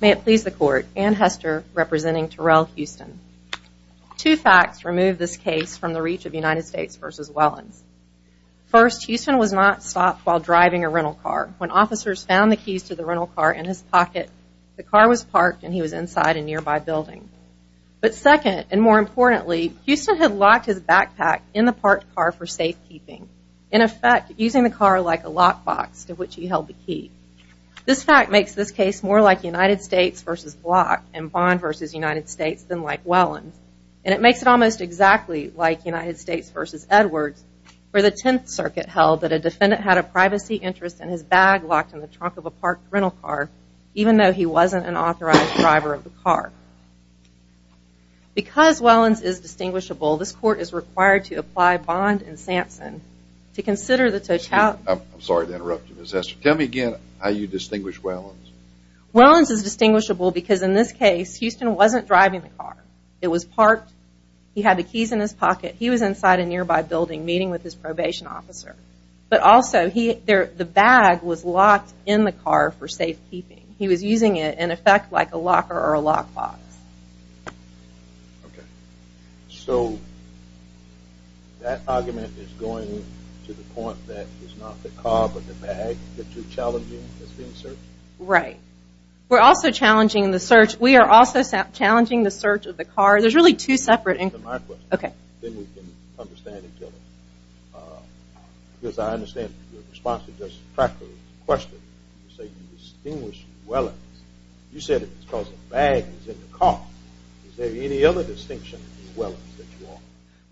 May it please the court, Anne Hester, representing Terrell Houston. Two facts remove this case from the reach of United States v. Wellins. First, Houston was not stopped while driving a rental car. When officers found the keys to the rental car in his pocket, the car was parked and he was inside a nearby building. But second, and more importantly, Houston had locked his backpack in the parked car for safekeeping. In effect, using the car like a lockbox to which he held the key. This fact makes this case more like United States v. Block and Bond v. United States than like Wellins. And it makes it almost exactly like United States v. Edwards where the Tenth Circuit held that a defendant had a privacy interest in his bag locked in the trunk of a parked rental car even though he wasn't an authorized driver of the car. Because Wellins is distinguishable, this court is required to apply Bond and Sampson to consider the totality I'm sorry to interrupt you, Ms. Hester. Tell me again how you distinguish Wellins. Wellins is distinguishable because in this case, Houston wasn't driving the car. It was parked. He had the keys in his pocket. He was inside a nearby building meeting with his probation officer. But also, the bag was locked in the car for safekeeping. He was using it in effect like a locker or a lockbox. Okay. So that argument is going to the point that it's not the car but the bag that you're challenging as being searched? Right. We're also challenging the search. We are also challenging the search of the car. There's really two separate inquiries. That's my question. Then we can understand each other. Because I understand your response to Justice Tracker's question. You say you distinguish Wellins. You said it's because the bag was in the car. Is there any other distinction in Wellins that you offer?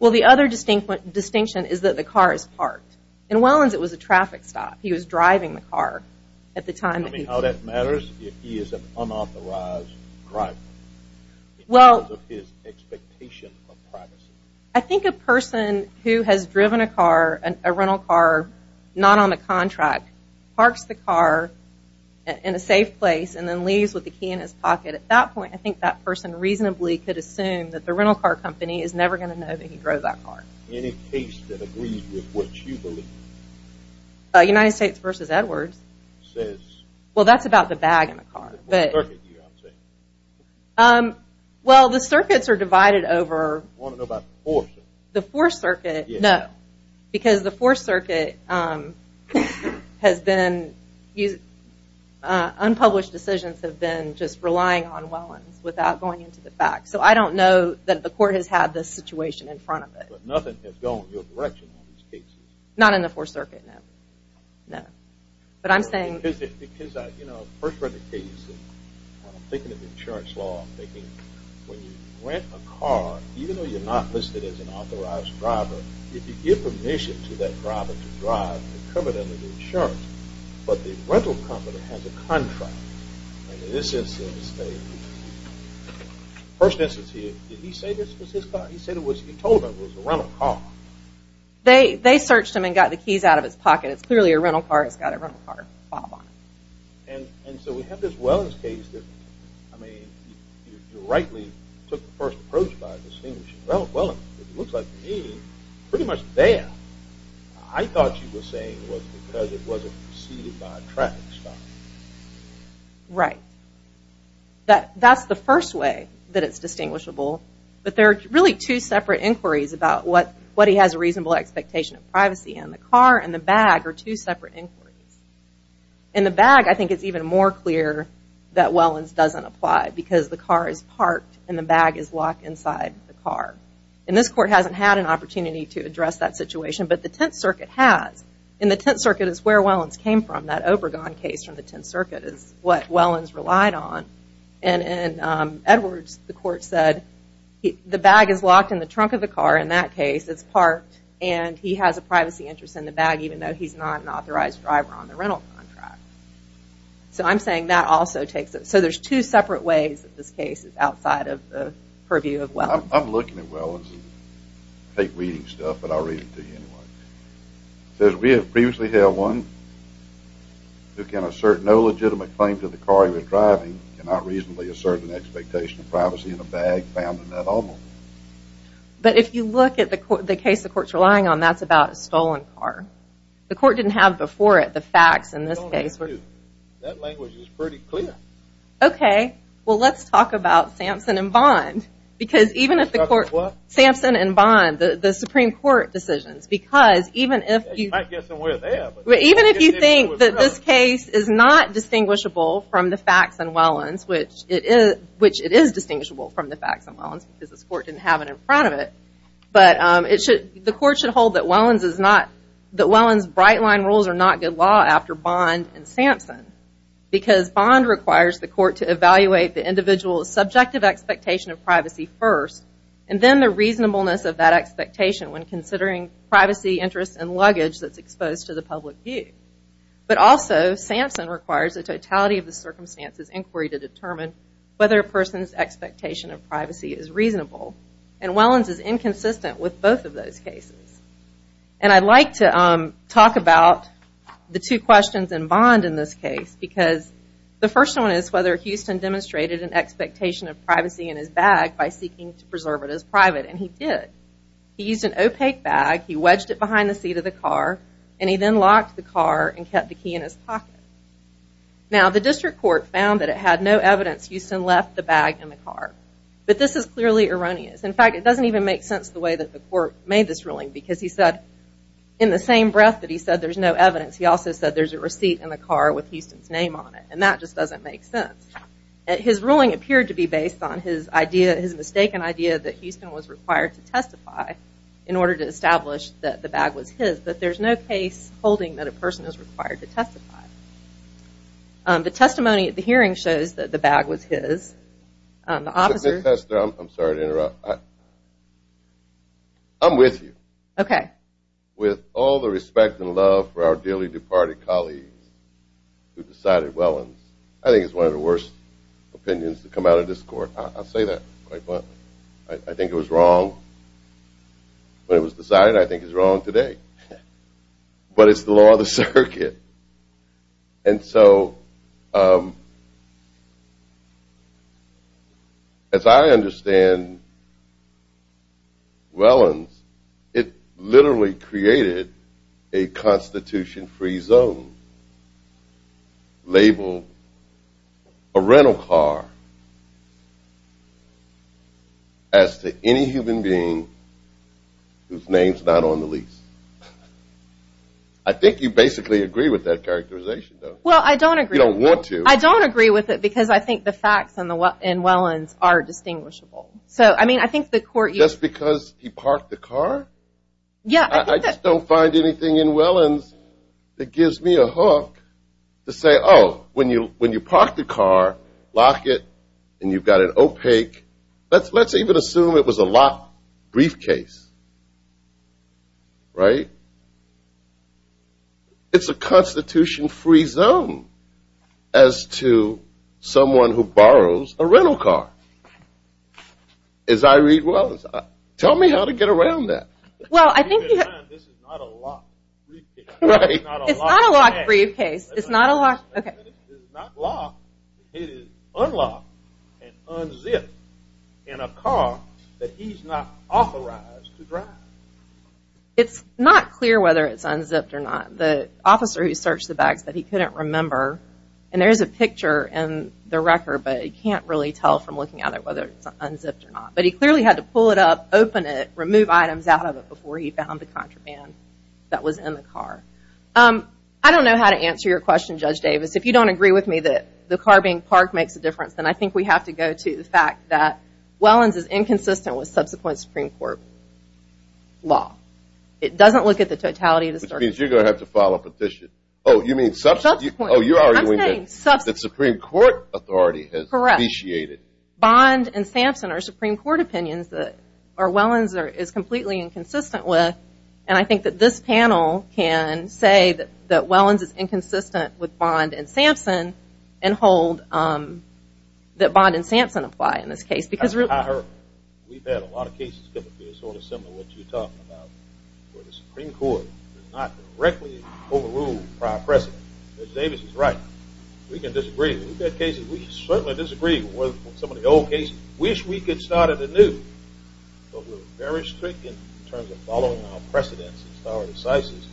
Well, the other distinction is that the car is parked. In Wellins, it was a traffic stop. He was driving the car at the time. Tell me how that matters if he is an unauthorized driver because of his expectation of privacy. I think a person who has driven a car, a rental car, not on the contract, parks the car in a safe place and then leaves with the key in his pocket. At that point, I think that person reasonably could assume that the rental car company is never going to know that he drove that car. Any case that agrees with what you believe? United States v. Edwards. Well, that's about the bag in the car. What circuit do you object? Well, the circuits are divided over I want to know about the fourth circuit. The fourth circuit, no. Because the fourth circuit has been, unpublished decisions have been just relying on Wellins without going into the facts. So I don't know that the court has had this situation in front of it. But nothing has gone in your direction on these cases. Not in the fourth circuit, no. But I'm saying I'm thinking of the insurance law. I'm thinking when you rent a car, even though you're not listed as an authorized driver, if you give permission to that driver to drive and cover it under the insurance, but the rental company has a contract. In this instance, did he say this was his car? He said he told him it was a rental car. They searched him and got the keys out of his pocket. It's clearly a rental car. It's got a rental car fob on it. And so we have this Wellins case. I mean, you rightly took the first approach by distinguishing Wellins. It looks like to me, pretty much there. I thought you were saying it was because it wasn't preceded by a traffic stop. Right. That's the first way that it's distinguishable. The car and the bag are two separate inquiries. In the bag, I think it's even more clear that Wellins doesn't apply because the car is parked and the bag is locked inside the car. And this court hasn't had an opportunity to address that situation, but the tenth circuit has. And the tenth circuit is where Wellins came from. That Obregon case from the tenth circuit is what Wellins relied on. And in Edwards, the court said the bag is locked in the trunk of the car. In that case, it's parked. And he has a privacy interest in the bag, even though he's not an authorized driver on the rental contract. So I'm saying that also takes it. So there's two separate ways that this case is outside of the purview of Wellins. I'm looking at Wellins. I hate reading stuff, but I'll read it to you anyway. It says we have previously had one who can assert no legitimate claim to the car he was driving and not reasonably assert an expectation of privacy in a bag found in that automobile. But if you look at the case the court's relying on, that's about a stolen car. The court didn't have before it the facts in this case. That language is pretty clear. Okay. Well, let's talk about Sampson and Bond. Because even if the court... Talk about what? Sampson and Bond, the Supreme Court decisions, because even if you... You might get somewhere there. Even if you think that this case is not distinguishable from the facts in Wellins, which it is distinguishable from the facts in Wellins, because this court didn't have it in front of it. But the court should hold that Wellins' bright line rules are not good law after Bond and Sampson. Because Bond requires the court to evaluate the individual's subjective expectation of privacy first and then the reasonableness of that expectation when considering privacy, interest, and luggage that's exposed to the public view. But also, Sampson requires the totality of the circumstances inquiry to determine whether a person's expectation of privacy is reasonable. And Wellins is inconsistent with both of those cases. And I'd like to talk about the two questions in Bond in this case. Because the first one is whether Houston demonstrated an expectation of privacy in his bag by seeking to preserve it as private. And he did. He used an opaque bag. He wedged it behind the seat of the car. And he then locked the car and kept the key in his pocket. Now, the district court found that it had no evidence Houston left the bag in the car. But this is clearly erroneous. In fact, it doesn't even make sense the way that the court made this ruling. Because he said in the same breath that he said there's no evidence, he also said there's a receipt in the car with Houston's name on it. And that just doesn't make sense. His ruling appeared to be based on his mistaken idea that Houston was required to testify in order to establish that the bag was his. But there's no case holding that a person is required to testify. The testimony at the hearing shows that the bag was his. I'm sorry to interrupt. I'm with you. Okay. With all the respect and love for our dearly departed colleagues who decided Wellins, I think it's one of the worst opinions to come out of this court. I'll say that quite bluntly. I think it was wrong when it was decided. I think it's wrong today. But it's the law of the circuit. And so as I understand Wellins, it literally created a constitution-free zone labeled a rental car as to any human being whose name's not on the lease. I think you basically agree with that characterization, don't you? Well, I don't agree. You don't want to. I don't agree with it because I think the facts in Wellins are distinguishable. So, I mean, I think the court you Just because he parked the car? Yeah. I just don't find anything in Wellins that gives me a hook to say, Oh, when you park the car, lock it, and you've got an opaque Let's even assume it was a locked briefcase. Right? It's a constitution-free zone as to someone who borrows a rental car. As I read Wellins, tell me how to get around that. Well, I think This is not a locked briefcase. Right? It's not a locked briefcase. It's not a locked Okay. It is not locked. It is unlocked and unzipped in a car that he's not authorized to drive. It's not clear whether it's unzipped or not. The officer who searched the bags said he couldn't remember, and there's a picture in the record, but you can't really tell from looking at it whether it's unzipped or not. But he clearly had to pull it up, open it, remove items out of it before he found the contraband that was in the car. I don't know how to answer your question, Judge Davis. If you don't agree with me that the car being parked makes a difference, then I think we have to go to the fact that Wellins is inconsistent with subsequent Supreme Court law. It doesn't look at the totality of the circumstances. Which means you're going to have to file a petition. Oh, you mean subsequent? Oh, you're arguing that the Supreme Court authority has vitiated. Correct. Bond and Sampson are Supreme Court opinions that Wellins is completely inconsistent with, and I think that this panel can say that Wellins is inconsistent with Bond and Sampson and hold that Bond and Sampson apply in this case. We've had a lot of cases that are sort of similar to what you're talking about where the Supreme Court has not directly overruled prior precedent. Judge Davis is right. We can disagree. We've had cases where we certainly disagree with some of the old cases. We wish we could start at anew, but we're very strict in terms of following our precedents and our decisions,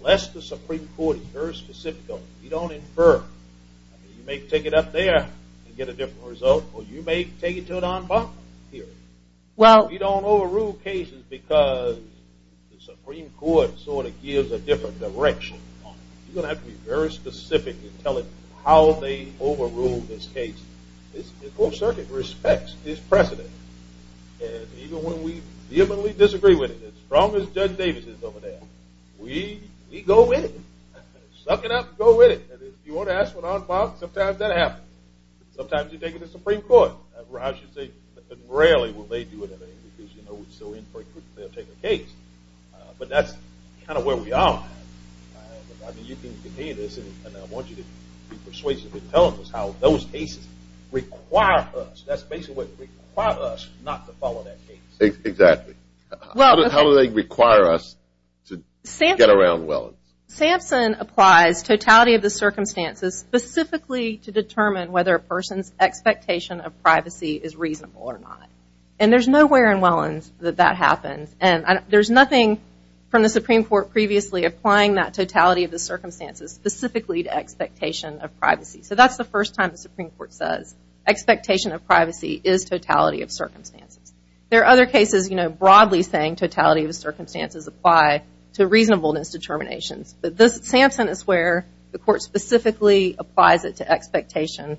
unless the Supreme Court is very specific. You don't infer. You may take it up there and get a different result, or you may take it to an on par hearing. We don't overrule cases because the Supreme Court sort of gives a different direction. You're going to have to be very specific and tell it how they overruled this case. The full circuit respects this precedent, and even when we vehemently disagree with it, as strong as Judge Davis is over there, we go with it. Suck it up and go with it. If you want to ask for an on par, sometimes that happens. Sometimes you take it to the Supreme Court. I should say that rarely will they do it because we're so infrequent that they'll take the case, but that's kind of where we are. You can continue this, and I want you to be persuasive in telling us how those cases require us. That's basically what it is. It requires us not to follow that case. Exactly. How do they require us to get around Wellins? Sampson applies totality of the circumstances specifically to determine whether a person's expectation of privacy is reasonable or not, and there's nowhere in Wellins that that happens. There's nothing from the Supreme Court previously applying that totality of the circumstances specifically to expectation of privacy. So that's the first time the Supreme Court says expectation of privacy is totality of circumstances. There are other cases broadly saying totality of the circumstances apply to reasonableness determinations, but Sampson is where the court specifically applies it to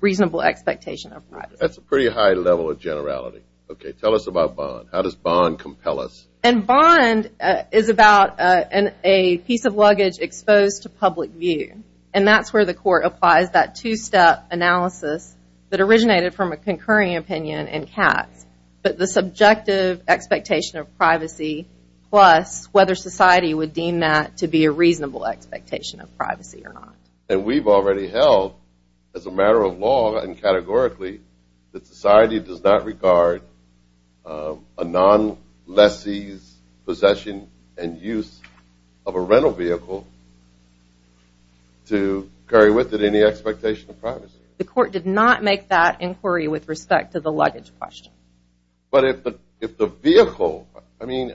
reasonable expectation of privacy. That's a pretty high level of generality. Okay, tell us about Bond. How does Bond compel us? And Bond is about a piece of luggage exposed to public view, and that's where the court applies that two-step analysis that originated from a concurring opinion in Katz, but the subjective expectation of privacy plus whether society would deem that to be a reasonable expectation of privacy or not. And we've already held, as a matter of law and categorically, that society does not regard a non-lessee's possession and use of a rental vehicle to carry with it any expectation of privacy. The court did not make that inquiry with respect to the luggage question. But if the vehicle, I mean,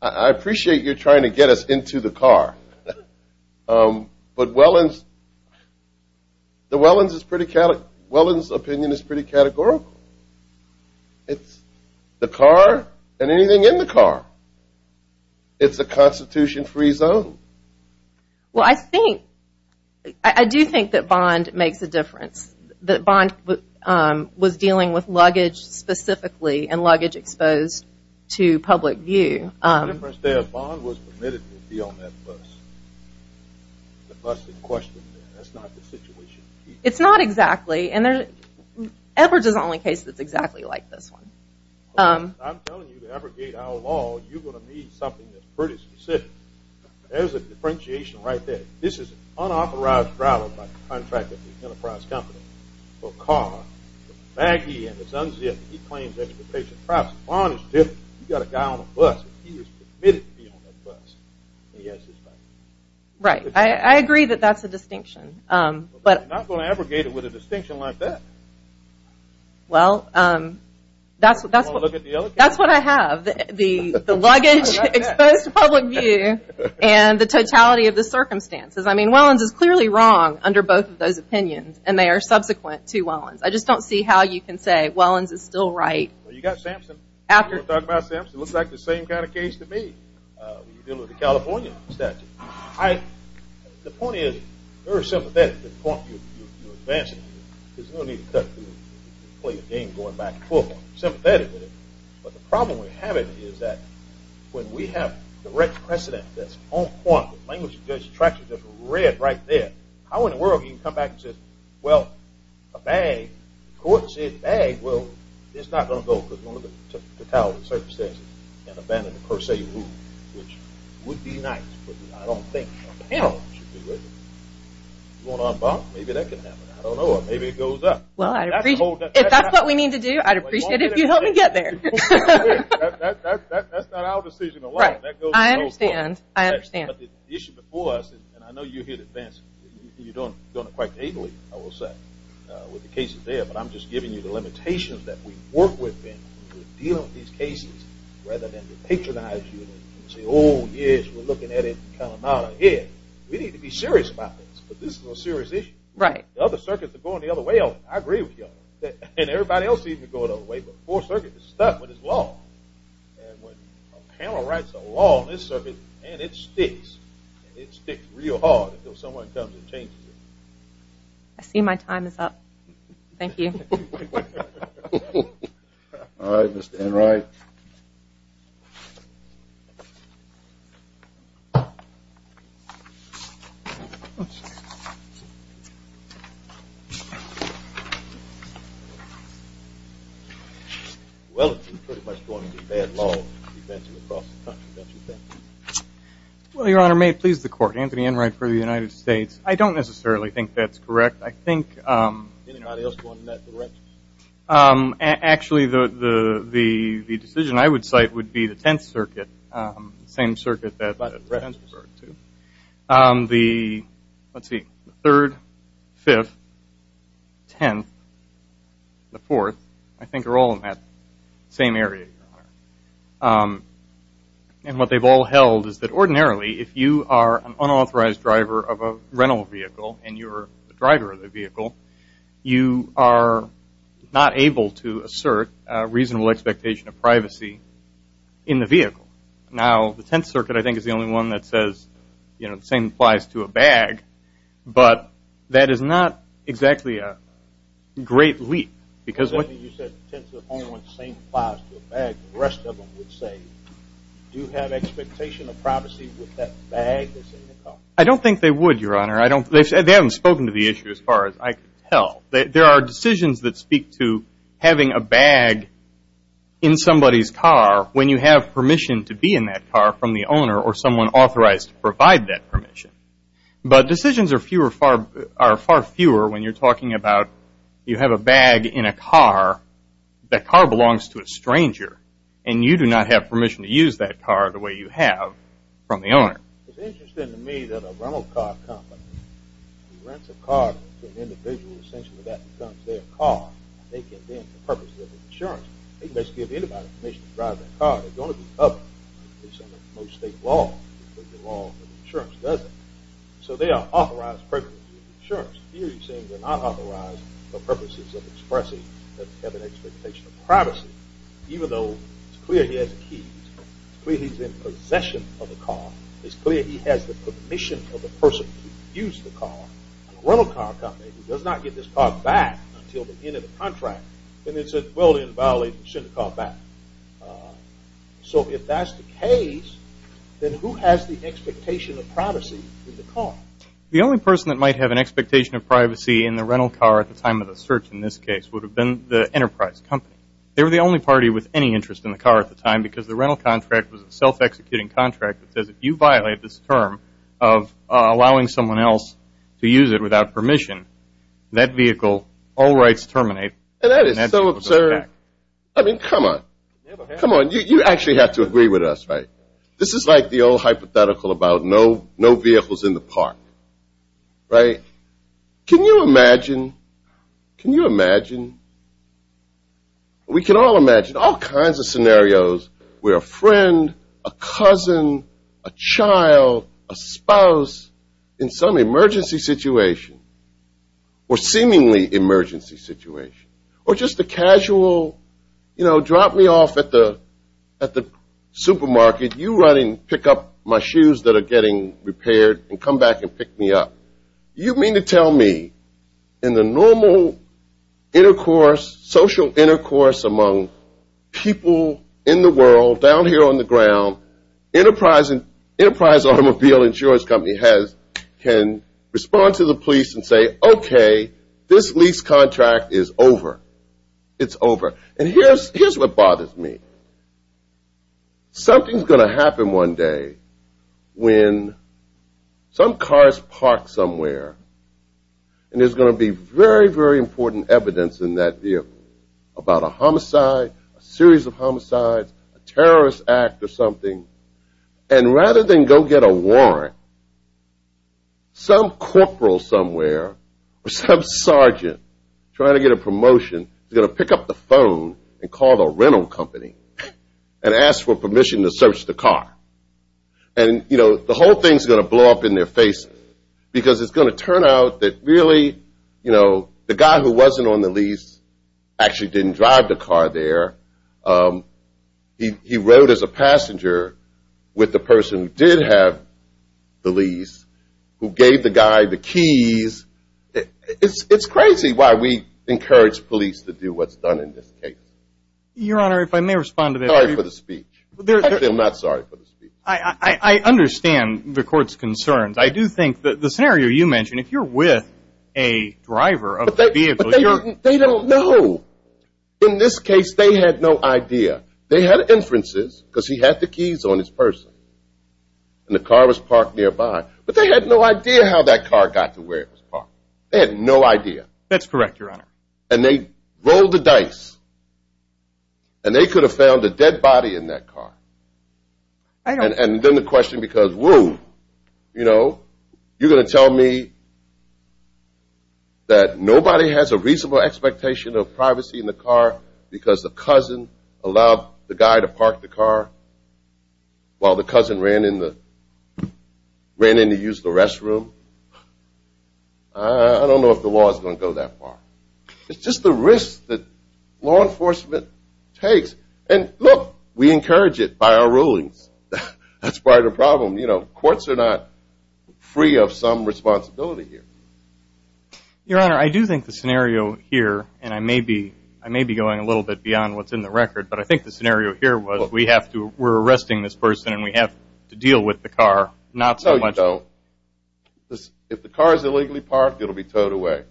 I appreciate you're trying to get us into the car, but Welland's opinion is pretty categorical. It's the car and anything in the car. It's a Constitution-free zone. Well, I do think that Bond makes a difference, that Bond was dealing with luggage specifically and luggage exposed to public view. The difference there is Bond was permitted to be on that bus. The bus in question, that's not the situation. It's not exactly, and Edwards is the only case that's exactly like this one. I'm telling you to abrogate our law, you're going to need something that's pretty specific. There's a differentiation right there. This is unauthorized travel by the contractor of the Enterprise Company for a car. He claims expectation of privacy. Bond is different. You've got a guy on a bus. He was permitted to be on that bus. He has his rights. Right. I agree that that's a distinction. I'm not going to abrogate it with a distinction like that. Well, that's what I have. The luggage exposed to public view and the totality of the circumstances. I mean, Welland's is clearly wrong under both of those opinions, and they are subsequent to Welland's. I just don't see how you can say Welland's is still right. Well, you've got Sampson. You want to talk about Sampson? It looks like the same kind of case to me. You deal with the California statute. The point is very sympathetic to the point you're advancing. There's no need to play a game going back and forth. I'm sympathetic with it. But the problem we're having is that when we have direct precedent that's on point, the tracks are just red right there. How in the world can you come back and say, well, a bag, the court said bag, well, it's not going to go because of the totality of the circumstances and abandon the per se rule, which would be nice, but I don't think a panel should do it. You want to unbind? Maybe that can happen. I don't know. Maybe it goes up. Well, if that's what we need to do, I'd appreciate it if you'd help me get there. That's not our decision alone. I understand. I understand. But the issue before us, and I know you're here to advance it. You don't quite agree, I will say, with the cases there, but I'm just giving you the limitations that we work within to deal with these cases rather than patronize you and say, oh, yes, we're looking at it. We need to be serious about this. This is a serious issue. The other circuits are going the other way. I agree with you. And everybody else seems to be going the other way, but the Fourth Circuit is stuck with its law. And when a panel writes a law on this circuit, man, it sticks. It sticks real hard until someone comes and changes it. I see my time is up. Thank you. All right, Mr. Enright. Well, it's pretty much going to be bad law advancing across the country, don't you think? Well, Your Honor, may it please the Court, Anthony Enright for the United States. I don't necessarily think that's correct. Anybody else want to add to that? Actually, the decision I would cite would be the Tenth Circuit, the same circuit that the defense referred to. The, let's see, the Third, Fifth, Tenth, the Fourth, I think are all in that same area, Your Honor. And what they've all held is that ordinarily, if you are an unauthorized driver of a rental vehicle and you're the driver of the vehicle, you are not able to assert a reasonable expectation of privacy in the vehicle. Now, the Tenth Circuit, I think, is the only one that says, you know, the same applies to a bag. But that is not exactly a great leap because what you said, the Tenth Circuit is the only one that says the same applies to a bag. The rest of them would say, do you have expectation of privacy with that bag that's in the car? I don't think they would, Your Honor. They haven't spoken to the issue as far as I can tell. There are decisions that speak to having a bag in somebody's car when you have permission to be in that car from the owner or someone authorized to provide that permission. But decisions are far fewer when you're talking about you have a bag in a car, that car belongs to a stranger, and you do not have permission to use that car the way you have from the owner. It's interesting to me that a rental car company rents a car to an individual. Essentially, that becomes their car. They can then, for purposes of insurance, they can basically give anybody permission to drive that car. They're going to be covered, at least under most state law, because the law of insurance doesn't. So they are authorized purposes of insurance. Here, you're saying they're not authorized for purposes of expressing that they have an expectation of privacy, even though it's clear he has the keys. It's clear he's in possession of the car. It's clear he has the permission of the person who used the car. A rental car company who does not get this car back until the end of the contract, then it's a dwelling violation. You shouldn't have the car back. So if that's the case, then who has the expectation of privacy in the car? The only person that might have an expectation of privacy in the rental car at the time of the search in this case would have been the enterprise company. They were the only party with any interest in the car at the time because the rental contract was a self-executing contract that says if you violate this term of allowing someone else to use it without permission, that vehicle all rights terminate. That is so absurd. I mean, come on. Come on. You actually have to agree with us, right? This is like the old hypothetical about no vehicles in the park, right? Can you imagine? Can you imagine? We can all imagine all kinds of scenarios where a friend, a cousin, a child, a spouse in some emergency situation or seemingly emergency situation or just a casual, you know, drop me off at the supermarket, you run and pick up my shoes that are getting repaired and come back and pick me up. You mean to tell me in the normal intercourse, social intercourse among people in the world, down here on the ground, enterprise automobile insurance company can respond to the police and say, okay, this lease contract is over. It's over. And here's what bothers me. Something's going to happen one day when some cars park somewhere and there's going to be very, very important evidence in that vehicle about a homicide, a series of homicides, a terrorist act or something. And rather than go get a warrant, some corporal somewhere or some sergeant trying to get a promotion is going to pick up the phone and call the rental company and ask for permission to search the car. And, you know, the whole thing is going to blow up in their face because it's going to turn out that really, you know, the guy who wasn't on the lease actually didn't drive the car there. He rode as a passenger with the person who did have the lease who gave the guy the keys. It's crazy why we encourage police to do what's done in this case. Your Honor, if I may respond to that. Sorry for the speech. I feel not sorry for the speech. I understand the court's concerns. I do think that the scenario you mentioned, if you're with a driver of a vehicle. But they don't know. In this case, they had no idea. They had inferences because he had the keys on his person and the car was parked nearby. But they had no idea how that car got to where it was parked. They had no idea. That's correct, Your Honor. And they rolled the dice. And they could have found a dead body in that car. And then the question because, whoa, you know, you're going to tell me that nobody has a reasonable expectation of privacy in the car because the cousin allowed the guy to park the car while the cousin ran in to use the restroom. I don't know if the law is going to go that far. It's just the risk that law enforcement takes. And, look, we encourage it by our rulings. That's part of the problem. You know, courts are not free of some responsibility here. Your Honor, I do think the scenario here, and I may be going a little bit beyond what's in the record, but I think the scenario here was we're arresting this person and we have to deal with the car, not so much. No, you don't. If the car is illegally parked, it will be towed away.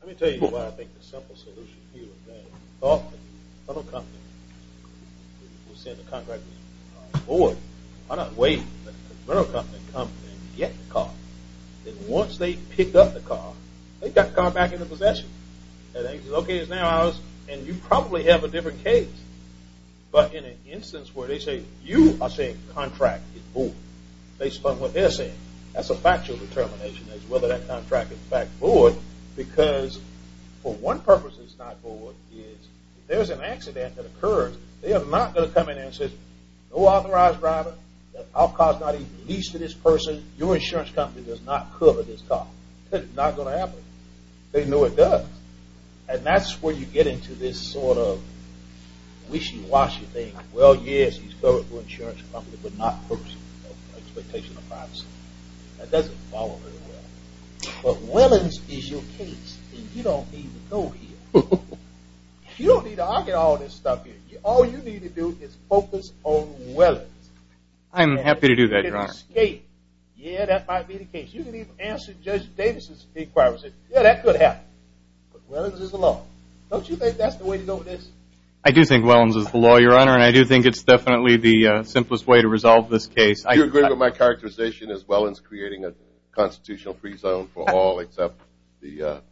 Let me tell you why I think the simple solution here is that if you thought that the federal company would send a contract with the car, why not wait for the federal company to come and get the car? Then once they pick up the car, they've got the car back into possession. And you probably have a different case. But in an instance where they say, you are saying the contract is void, based upon what they're saying, that's a factual determination as to whether that contract is in fact void, because for one purpose it's not void is if there's an accident that occurs, they are not going to come in and say, no authorized driver, our car is not even leased to this person, your insurance company does not cover this car. That's not going to happen. They know it does. And that's where you get into this sort of wishy-washy thing. Well, yes, he's covered by the insurance company, but not purposefully. No expectation of privacy. That doesn't follow very well. But Willans is your case. You don't need to go here. You don't need to argue all this stuff here. All you need to do is focus on Willans. I'm happy to do that, Your Honor. Yeah, that might be the case. You can even answer Judge Davis's inquiries. Yeah, that could happen. But Willans is the law. Don't you think that's the way to go with this? I do think Willans is the law, Your Honor, and I do think it's definitely the simplest way to resolve this case. Do you agree with my characterization as Wellans creating a constitutional free zone for all except the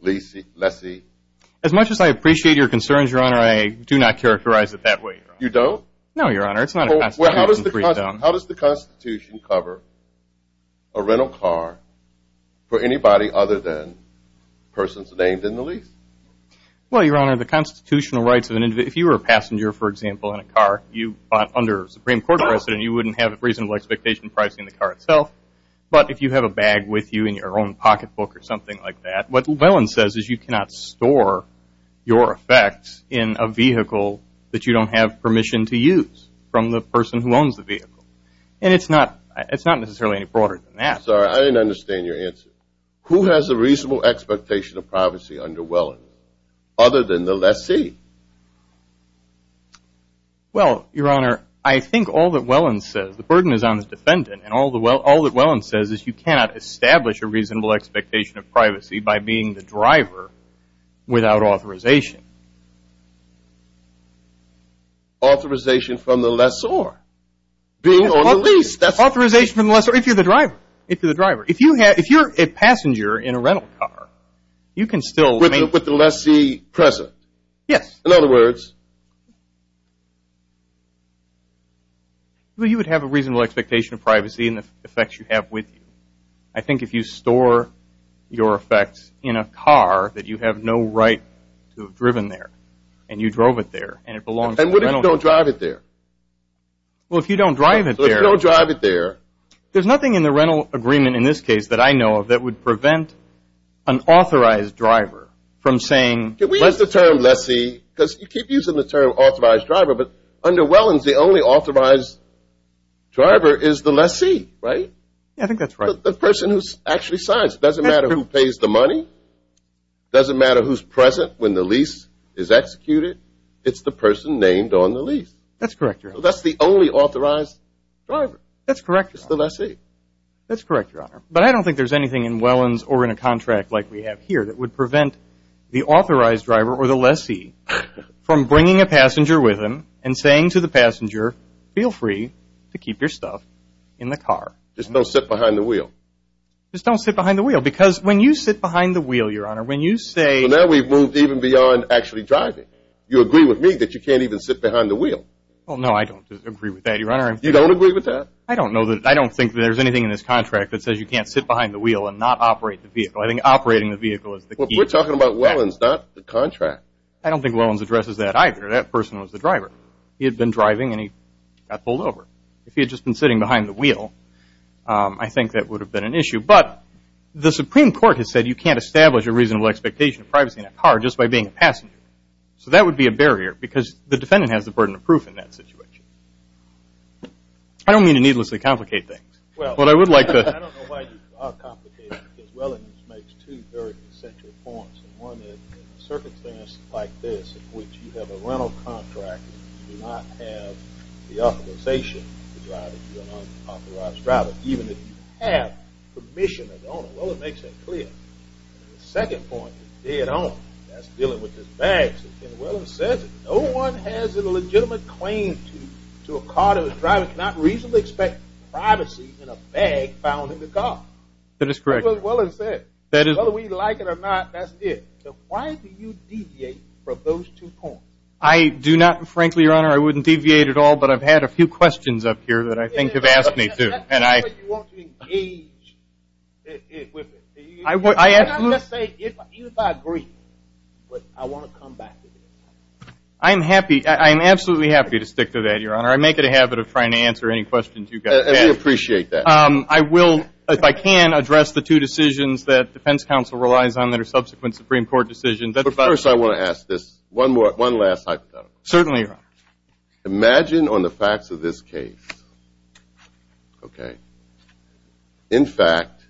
lessee? As much as I appreciate your concerns, Your Honor, I do not characterize it that way. You don't? No, Your Honor, it's not a constitutional free zone. How does the Constitution cover a rental car for anybody other than persons named in the lease? Well, Your Honor, the constitutional rights of an individual. If you were a passenger, for example, in a car you bought under a Supreme Court precedent, you wouldn't have a reasonable expectation pricing the car itself. But if you have a bag with you in your own pocketbook or something like that, what Willans says is you cannot store your effects in a vehicle that you don't have permission to use from the person who owns the vehicle. And it's not necessarily any broader than that. Sorry, I didn't understand your answer. Who has a reasonable expectation of privacy under Wellans other than the lessee? Well, Your Honor, I think all that Wellans says, the burden is on the defendant, and all that Wellans says is you cannot establish a reasonable expectation of privacy by being the driver without authorization. Authorization from the lessor being on the lease. Authorization from the lessor if you're the driver. If you're the driver. If you're a passenger in a rental car, you can still – With the lessee present. Yes. In other words? Well, you would have a reasonable expectation of privacy and the effects you have with you. I think if you store your effects in a car that you have no right to have driven there, and you drove it there, and it belongs to the rental – And what if you don't drive it there? Well, if you don't drive it there – If you don't drive it there – There's nothing in the rental agreement in this case that I know of that would prevent an authorized driver from saying – Can we use the term lessee? Because you keep using the term authorized driver, but under Wellans the only authorized driver is the lessee, right? I think that's right. The person who actually signs. It doesn't matter who pays the money. It doesn't matter who's present when the lease is executed. It's the person named on the lease. That's correct, Your Honor. So that's the only authorized driver. That's correct, Your Honor. It's the lessee. That's correct, Your Honor. But I don't think there's anything in Wellans or in a contract like we have here that would prevent the authorized driver or the lessee from bringing a passenger with him and saying to the passenger, feel free to keep your stuff in the car. Just don't sit behind the wheel. Just don't sit behind the wheel. Because when you sit behind the wheel, Your Honor, when you say – Well, now we've moved even beyond actually driving. You agree with me that you can't even sit behind the wheel. Well, no, I don't agree with that, Your Honor. You don't agree with that? I don't know. I don't think there's anything in this contract that says you can't sit behind the wheel and not operate the vehicle. I think operating the vehicle is the key. Well, we're talking about Wellans, not the contract. I don't think Wellans addresses that either. That person was the driver. He had been driving and he got pulled over. If he had just been sitting behind the wheel, I think that would have been an issue. But the Supreme Court has said you can't establish a reasonable expectation of privacy in a car just by being a passenger. So that would be a barrier because the defendant has the burden of proof in that situation. I don't mean to needlessly complicate things. Well, I don't know why you complicate it. Because Wellans makes two very essential points. One is in a circumstance like this in which you have a rental contract and you do not have the authorization to drive it, you're an unauthorized driver, even if you have permission of the owner. Well, it makes that clear. The second point is dead on. That's dealing with the bags. And Wellans says no one has a legitimate claim to a car that the driver cannot reasonably expect privacy in a bag found in the car. That is correct. That's what Wellans said. Whether we like it or not, that's it. So why do you deviate from those two points? I do not, and frankly, Your Honor, I wouldn't deviate at all, but I've had a few questions up here that I think have asked me to. That's the way you want to engage with it. You cannot just say, even if I agree, but I want to come back to this. I'm happy. I'm absolutely happy to stick to that, Your Honor. I make it a habit of trying to answer any questions you guys have. And we appreciate that. I will, if I can, address the two decisions that defense counsel relies on that are subsequent Supreme Court decisions. Certainly, Your Honor. Imagine on the facts of this case, okay, in fact,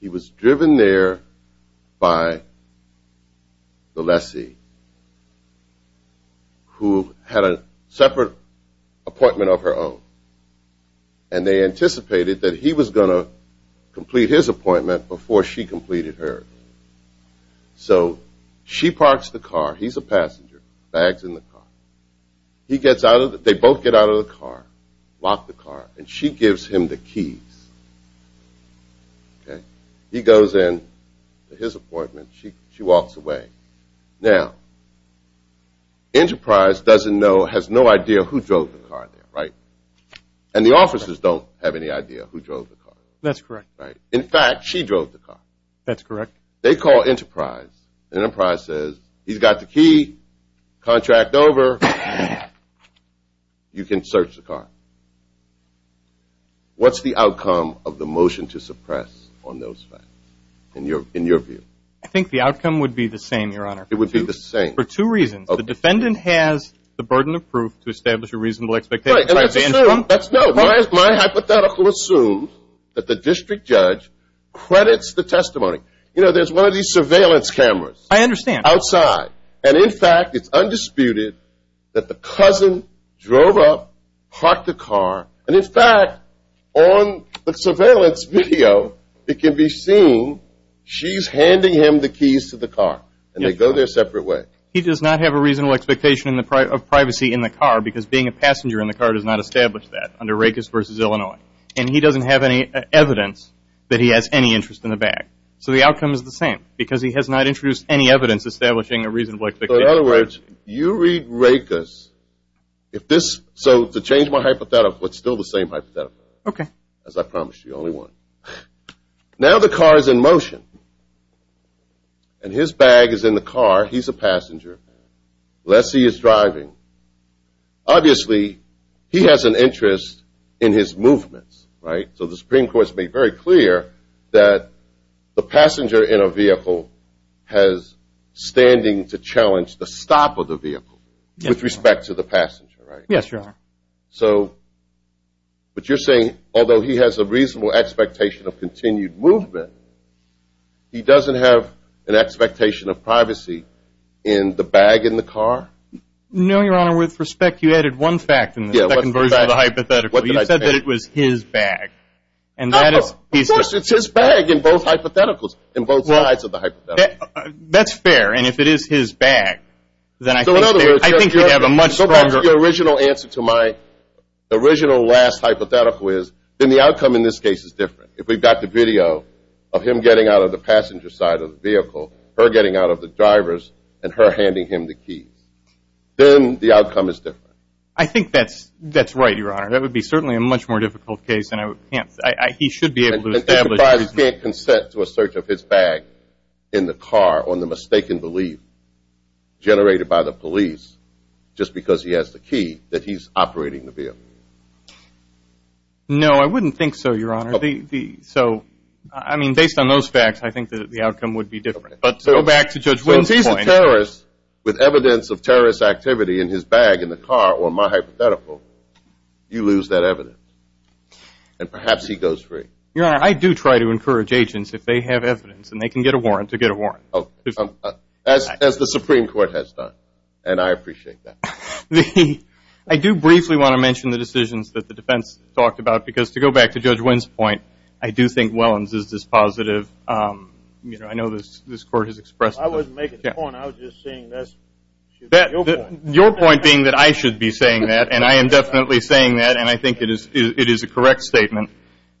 he was driven there by the lessee who had a separate appointment of her own. And they anticipated that he was going to complete his appointment before she completed hers. So she parks the car. He's a passenger. Bag's in the car. They both get out of the car, lock the car, and she gives him the keys, okay? He goes in to his appointment. She walks away. Now, Enterprise doesn't know, has no idea who drove the car there, right? And the officers don't have any idea who drove the car. That's correct. In fact, she drove the car. That's correct. They call Enterprise. Enterprise says, he's got the key. Contract over. You can search the car. What's the outcome of the motion to suppress on those facts in your view? I think the outcome would be the same, Your Honor. It would be the same. For two reasons. The defendant has the burden of proof to establish a reasonable expectation. My hypothetical assumes that the district judge credits the testimony. You know, there's one of these surveillance cameras. I understand. Outside. And, in fact, it's undisputed that the cousin drove up, parked the car, and, in fact, on the surveillance video, it can be seen she's handing him the keys to the car, and they go their separate way. He does not have a reasonable expectation of privacy in the car because being a passenger in the car does not establish that under Rakes versus Illinois. And he doesn't have any evidence that he has any interest in the bag. So the outcome is the same because he has not introduced any evidence establishing a reasonable expectation. In other words, you read Rakes. So to change my hypothetical, it's still the same hypothetical. Okay. As I promised you, the only one. Now the car is in motion, and his bag is in the car. He's a passenger. Unless he is driving, obviously he has an interest in his movements, right? So the Supreme Court has made very clear that the passenger in a vehicle has standing to challenge the stop of the vehicle with respect to the passenger, right? Yes, Your Honor. So what you're saying, although he has a reasonable expectation of continued movement, he doesn't have an expectation of privacy in the bag in the car? No, Your Honor. With respect, you added one fact in the second version of the hypothetical. You said that it was his bag. Of course, it's his bag in both hypotheticals, in both sides of the hypothetical. That's fair. And if it is his bag, then I think you'd have a much stronger – The original answer to my original last hypothetical is then the outcome in this case is different. If we've got the video of him getting out of the passenger side of the vehicle, her getting out of the driver's, and her handing him the keys, then the outcome is different. I think that's right, Your Honor. That would be certainly a much more difficult case, and he should be able to establish – If he can't consent to a search of his bag in the car on the mistaken belief generated by the police just because he has the key, that he's operating the vehicle. No, I wouldn't think so, Your Honor. So, I mean, based on those facts, I think that the outcome would be different. But go back to Judge Winters' point. So if he's a terrorist with evidence of terrorist activity in his bag in the car or my hypothetical, you lose that evidence. And perhaps he goes free. Your Honor, I do try to encourage agents if they have evidence, and they can get a warrant to get a warrant. As the Supreme Court has done, and I appreciate that. I do briefly want to mention the decisions that the defense talked about, because to go back to Judge Winters' point, I do think Wellens is dispositive. I know this Court has expressed – I wasn't making a point. I was just saying that's your point. Your point being that I should be saying that, and I am definitely saying that, and I think it is a correct statement.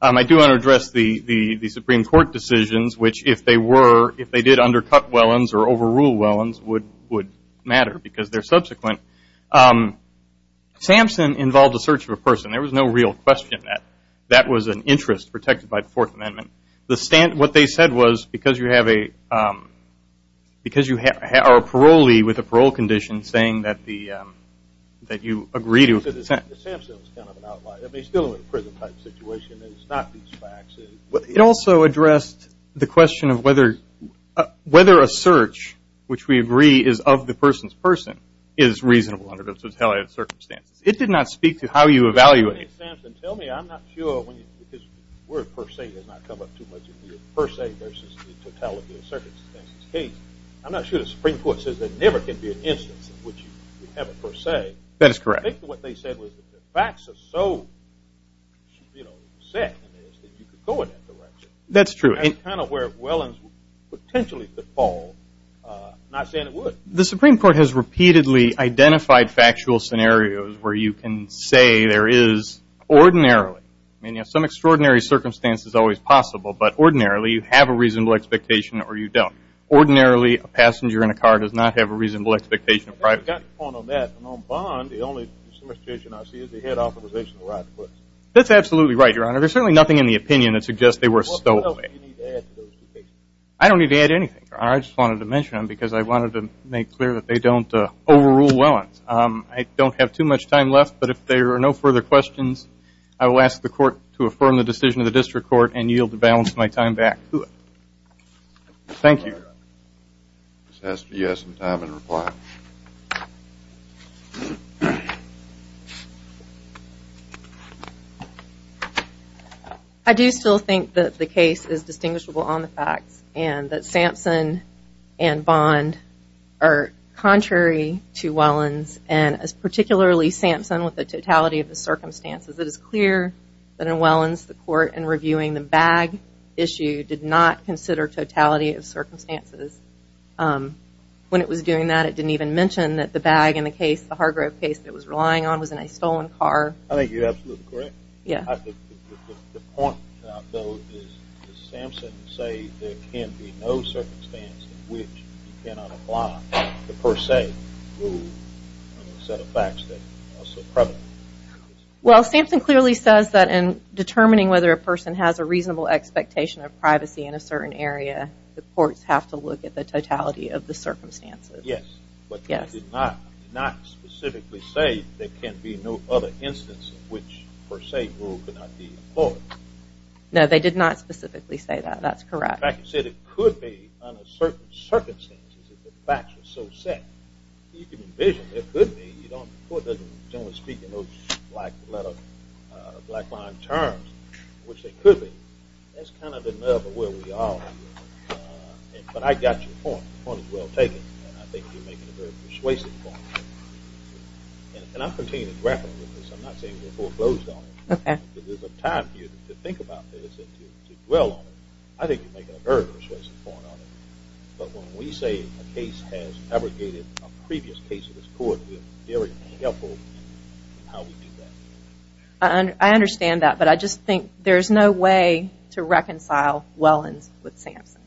I do want to address the Supreme Court decisions, which if they were, undercut Wellens or overrule Wellens would matter because they're subsequent. Sampson involved the search of a person. There was no real question that that was an interest protected by the Fourth Amendment. What they said was because you are a parolee with a parole condition, saying that you agree to – Sampson is kind of an outlier. He's still in a prison-type situation. It's not these facts. It also addressed the question of whether a search, which we agree is of the person's person, is reasonable under the totality of circumstances. It did not speak to how you evaluate it. Tell me, I'm not sure, because the word per se does not come up too much in here, per se versus the totality of circumstances case. I'm not sure the Supreme Court says there never can be an instance in which you have a per se. That is correct. I think what they said was that the facts are so set in this that you could go in that direction. That's true. That's kind of where Wellens potentially could fall, not saying it would. The Supreme Court has repeatedly identified factual scenarios where you can say there is ordinarily. I mean, some extraordinary circumstance is always possible, but ordinarily you have a reasonable expectation or you don't. Ordinarily a passenger in a car does not have a reasonable expectation of privacy. I've got a point on that. And on bond, the only situation I see is the head of authorization arrives first. That's absolutely right, Your Honor. There's certainly nothing in the opinion that suggests they were stolen. What else do you need to add to those two cases? I don't need to add anything, Your Honor. I just wanted to mention them because I wanted to make clear that they don't overrule Wellens. I don't have too much time left, but if there are no further questions, I will ask the Court to affirm the decision of the District Court and yield the balance of my time back to it. Thank you, Your Honor. Ms. Hester, you have some time in reply. I do still think that the case is distinguishable on the facts and that Sampson and Bond are contrary to Wellens and particularly Sampson with the totality of the circumstances. It is clear that in Wellens, the Court, in reviewing the bag issue, did not consider totality of circumstances. When it was doing that, it didn't even mention that the bag in the case, the Hargrove case that it was relying on, was in a stolen car. I think you're absolutely correct. Yeah. I think the point, though, is that Sampson said there can be no circumstance in which you cannot apply the per se rule on a set of facts that are so prevalent. Well, Sampson clearly says that in determining whether a person has a reasonable expectation of privacy in a certain area, the courts have to look at the totality of the circumstances. Yes. Yes. But they did not specifically say there can be no other instance in which per se rule could not be employed. No, they did not specifically say that. That's correct. In fact, they said it could be under certain circumstances if the facts were so set. You can envision it could be. The court doesn't generally speak in those black line terms, which they could be. That's kind of enough of where we are. But I got your point. The point is well taken, and I think you're making a very persuasive point. And I'm continuing to grapple with this. I'm not saying the report blows on it. Okay. But there's enough time for you to think about this and to dwell on it. I think you're making a very persuasive point on it. But when we say a case has abrogated a previous case of this court, it's very helpful in how we do that. I understand that. But I just think there's no way to reconcile Wellins with Sampson.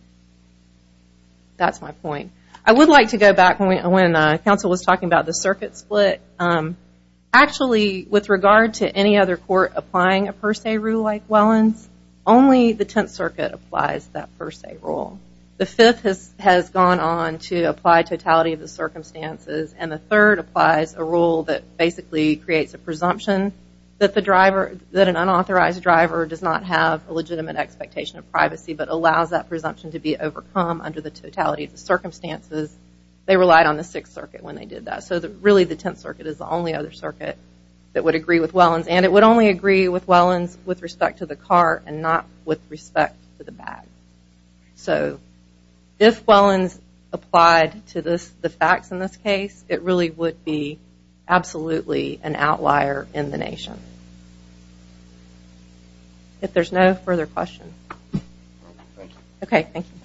That's my point. I would like to go back when counsel was talking about the circuit split. Actually, with regard to any other court applying a per se rule like Wellins, only the Tenth Circuit applies that per se rule. The Fifth has gone on to apply totality of the circumstances, and the Third applies a rule that basically creates a presumption that an unauthorized driver does not have a legitimate expectation of privacy but allows that presumption to be overcome under the totality of the circumstances. They relied on the Sixth Circuit when they did that. So really the Tenth Circuit is the only other circuit that would agree with Wellins. And it would only agree with Wellins with respect to the car and not with respect to the bag. So if Wellins applied to the facts in this case, it really would be absolutely an outlier in the nation. If there's no further questions. Okay, thank you.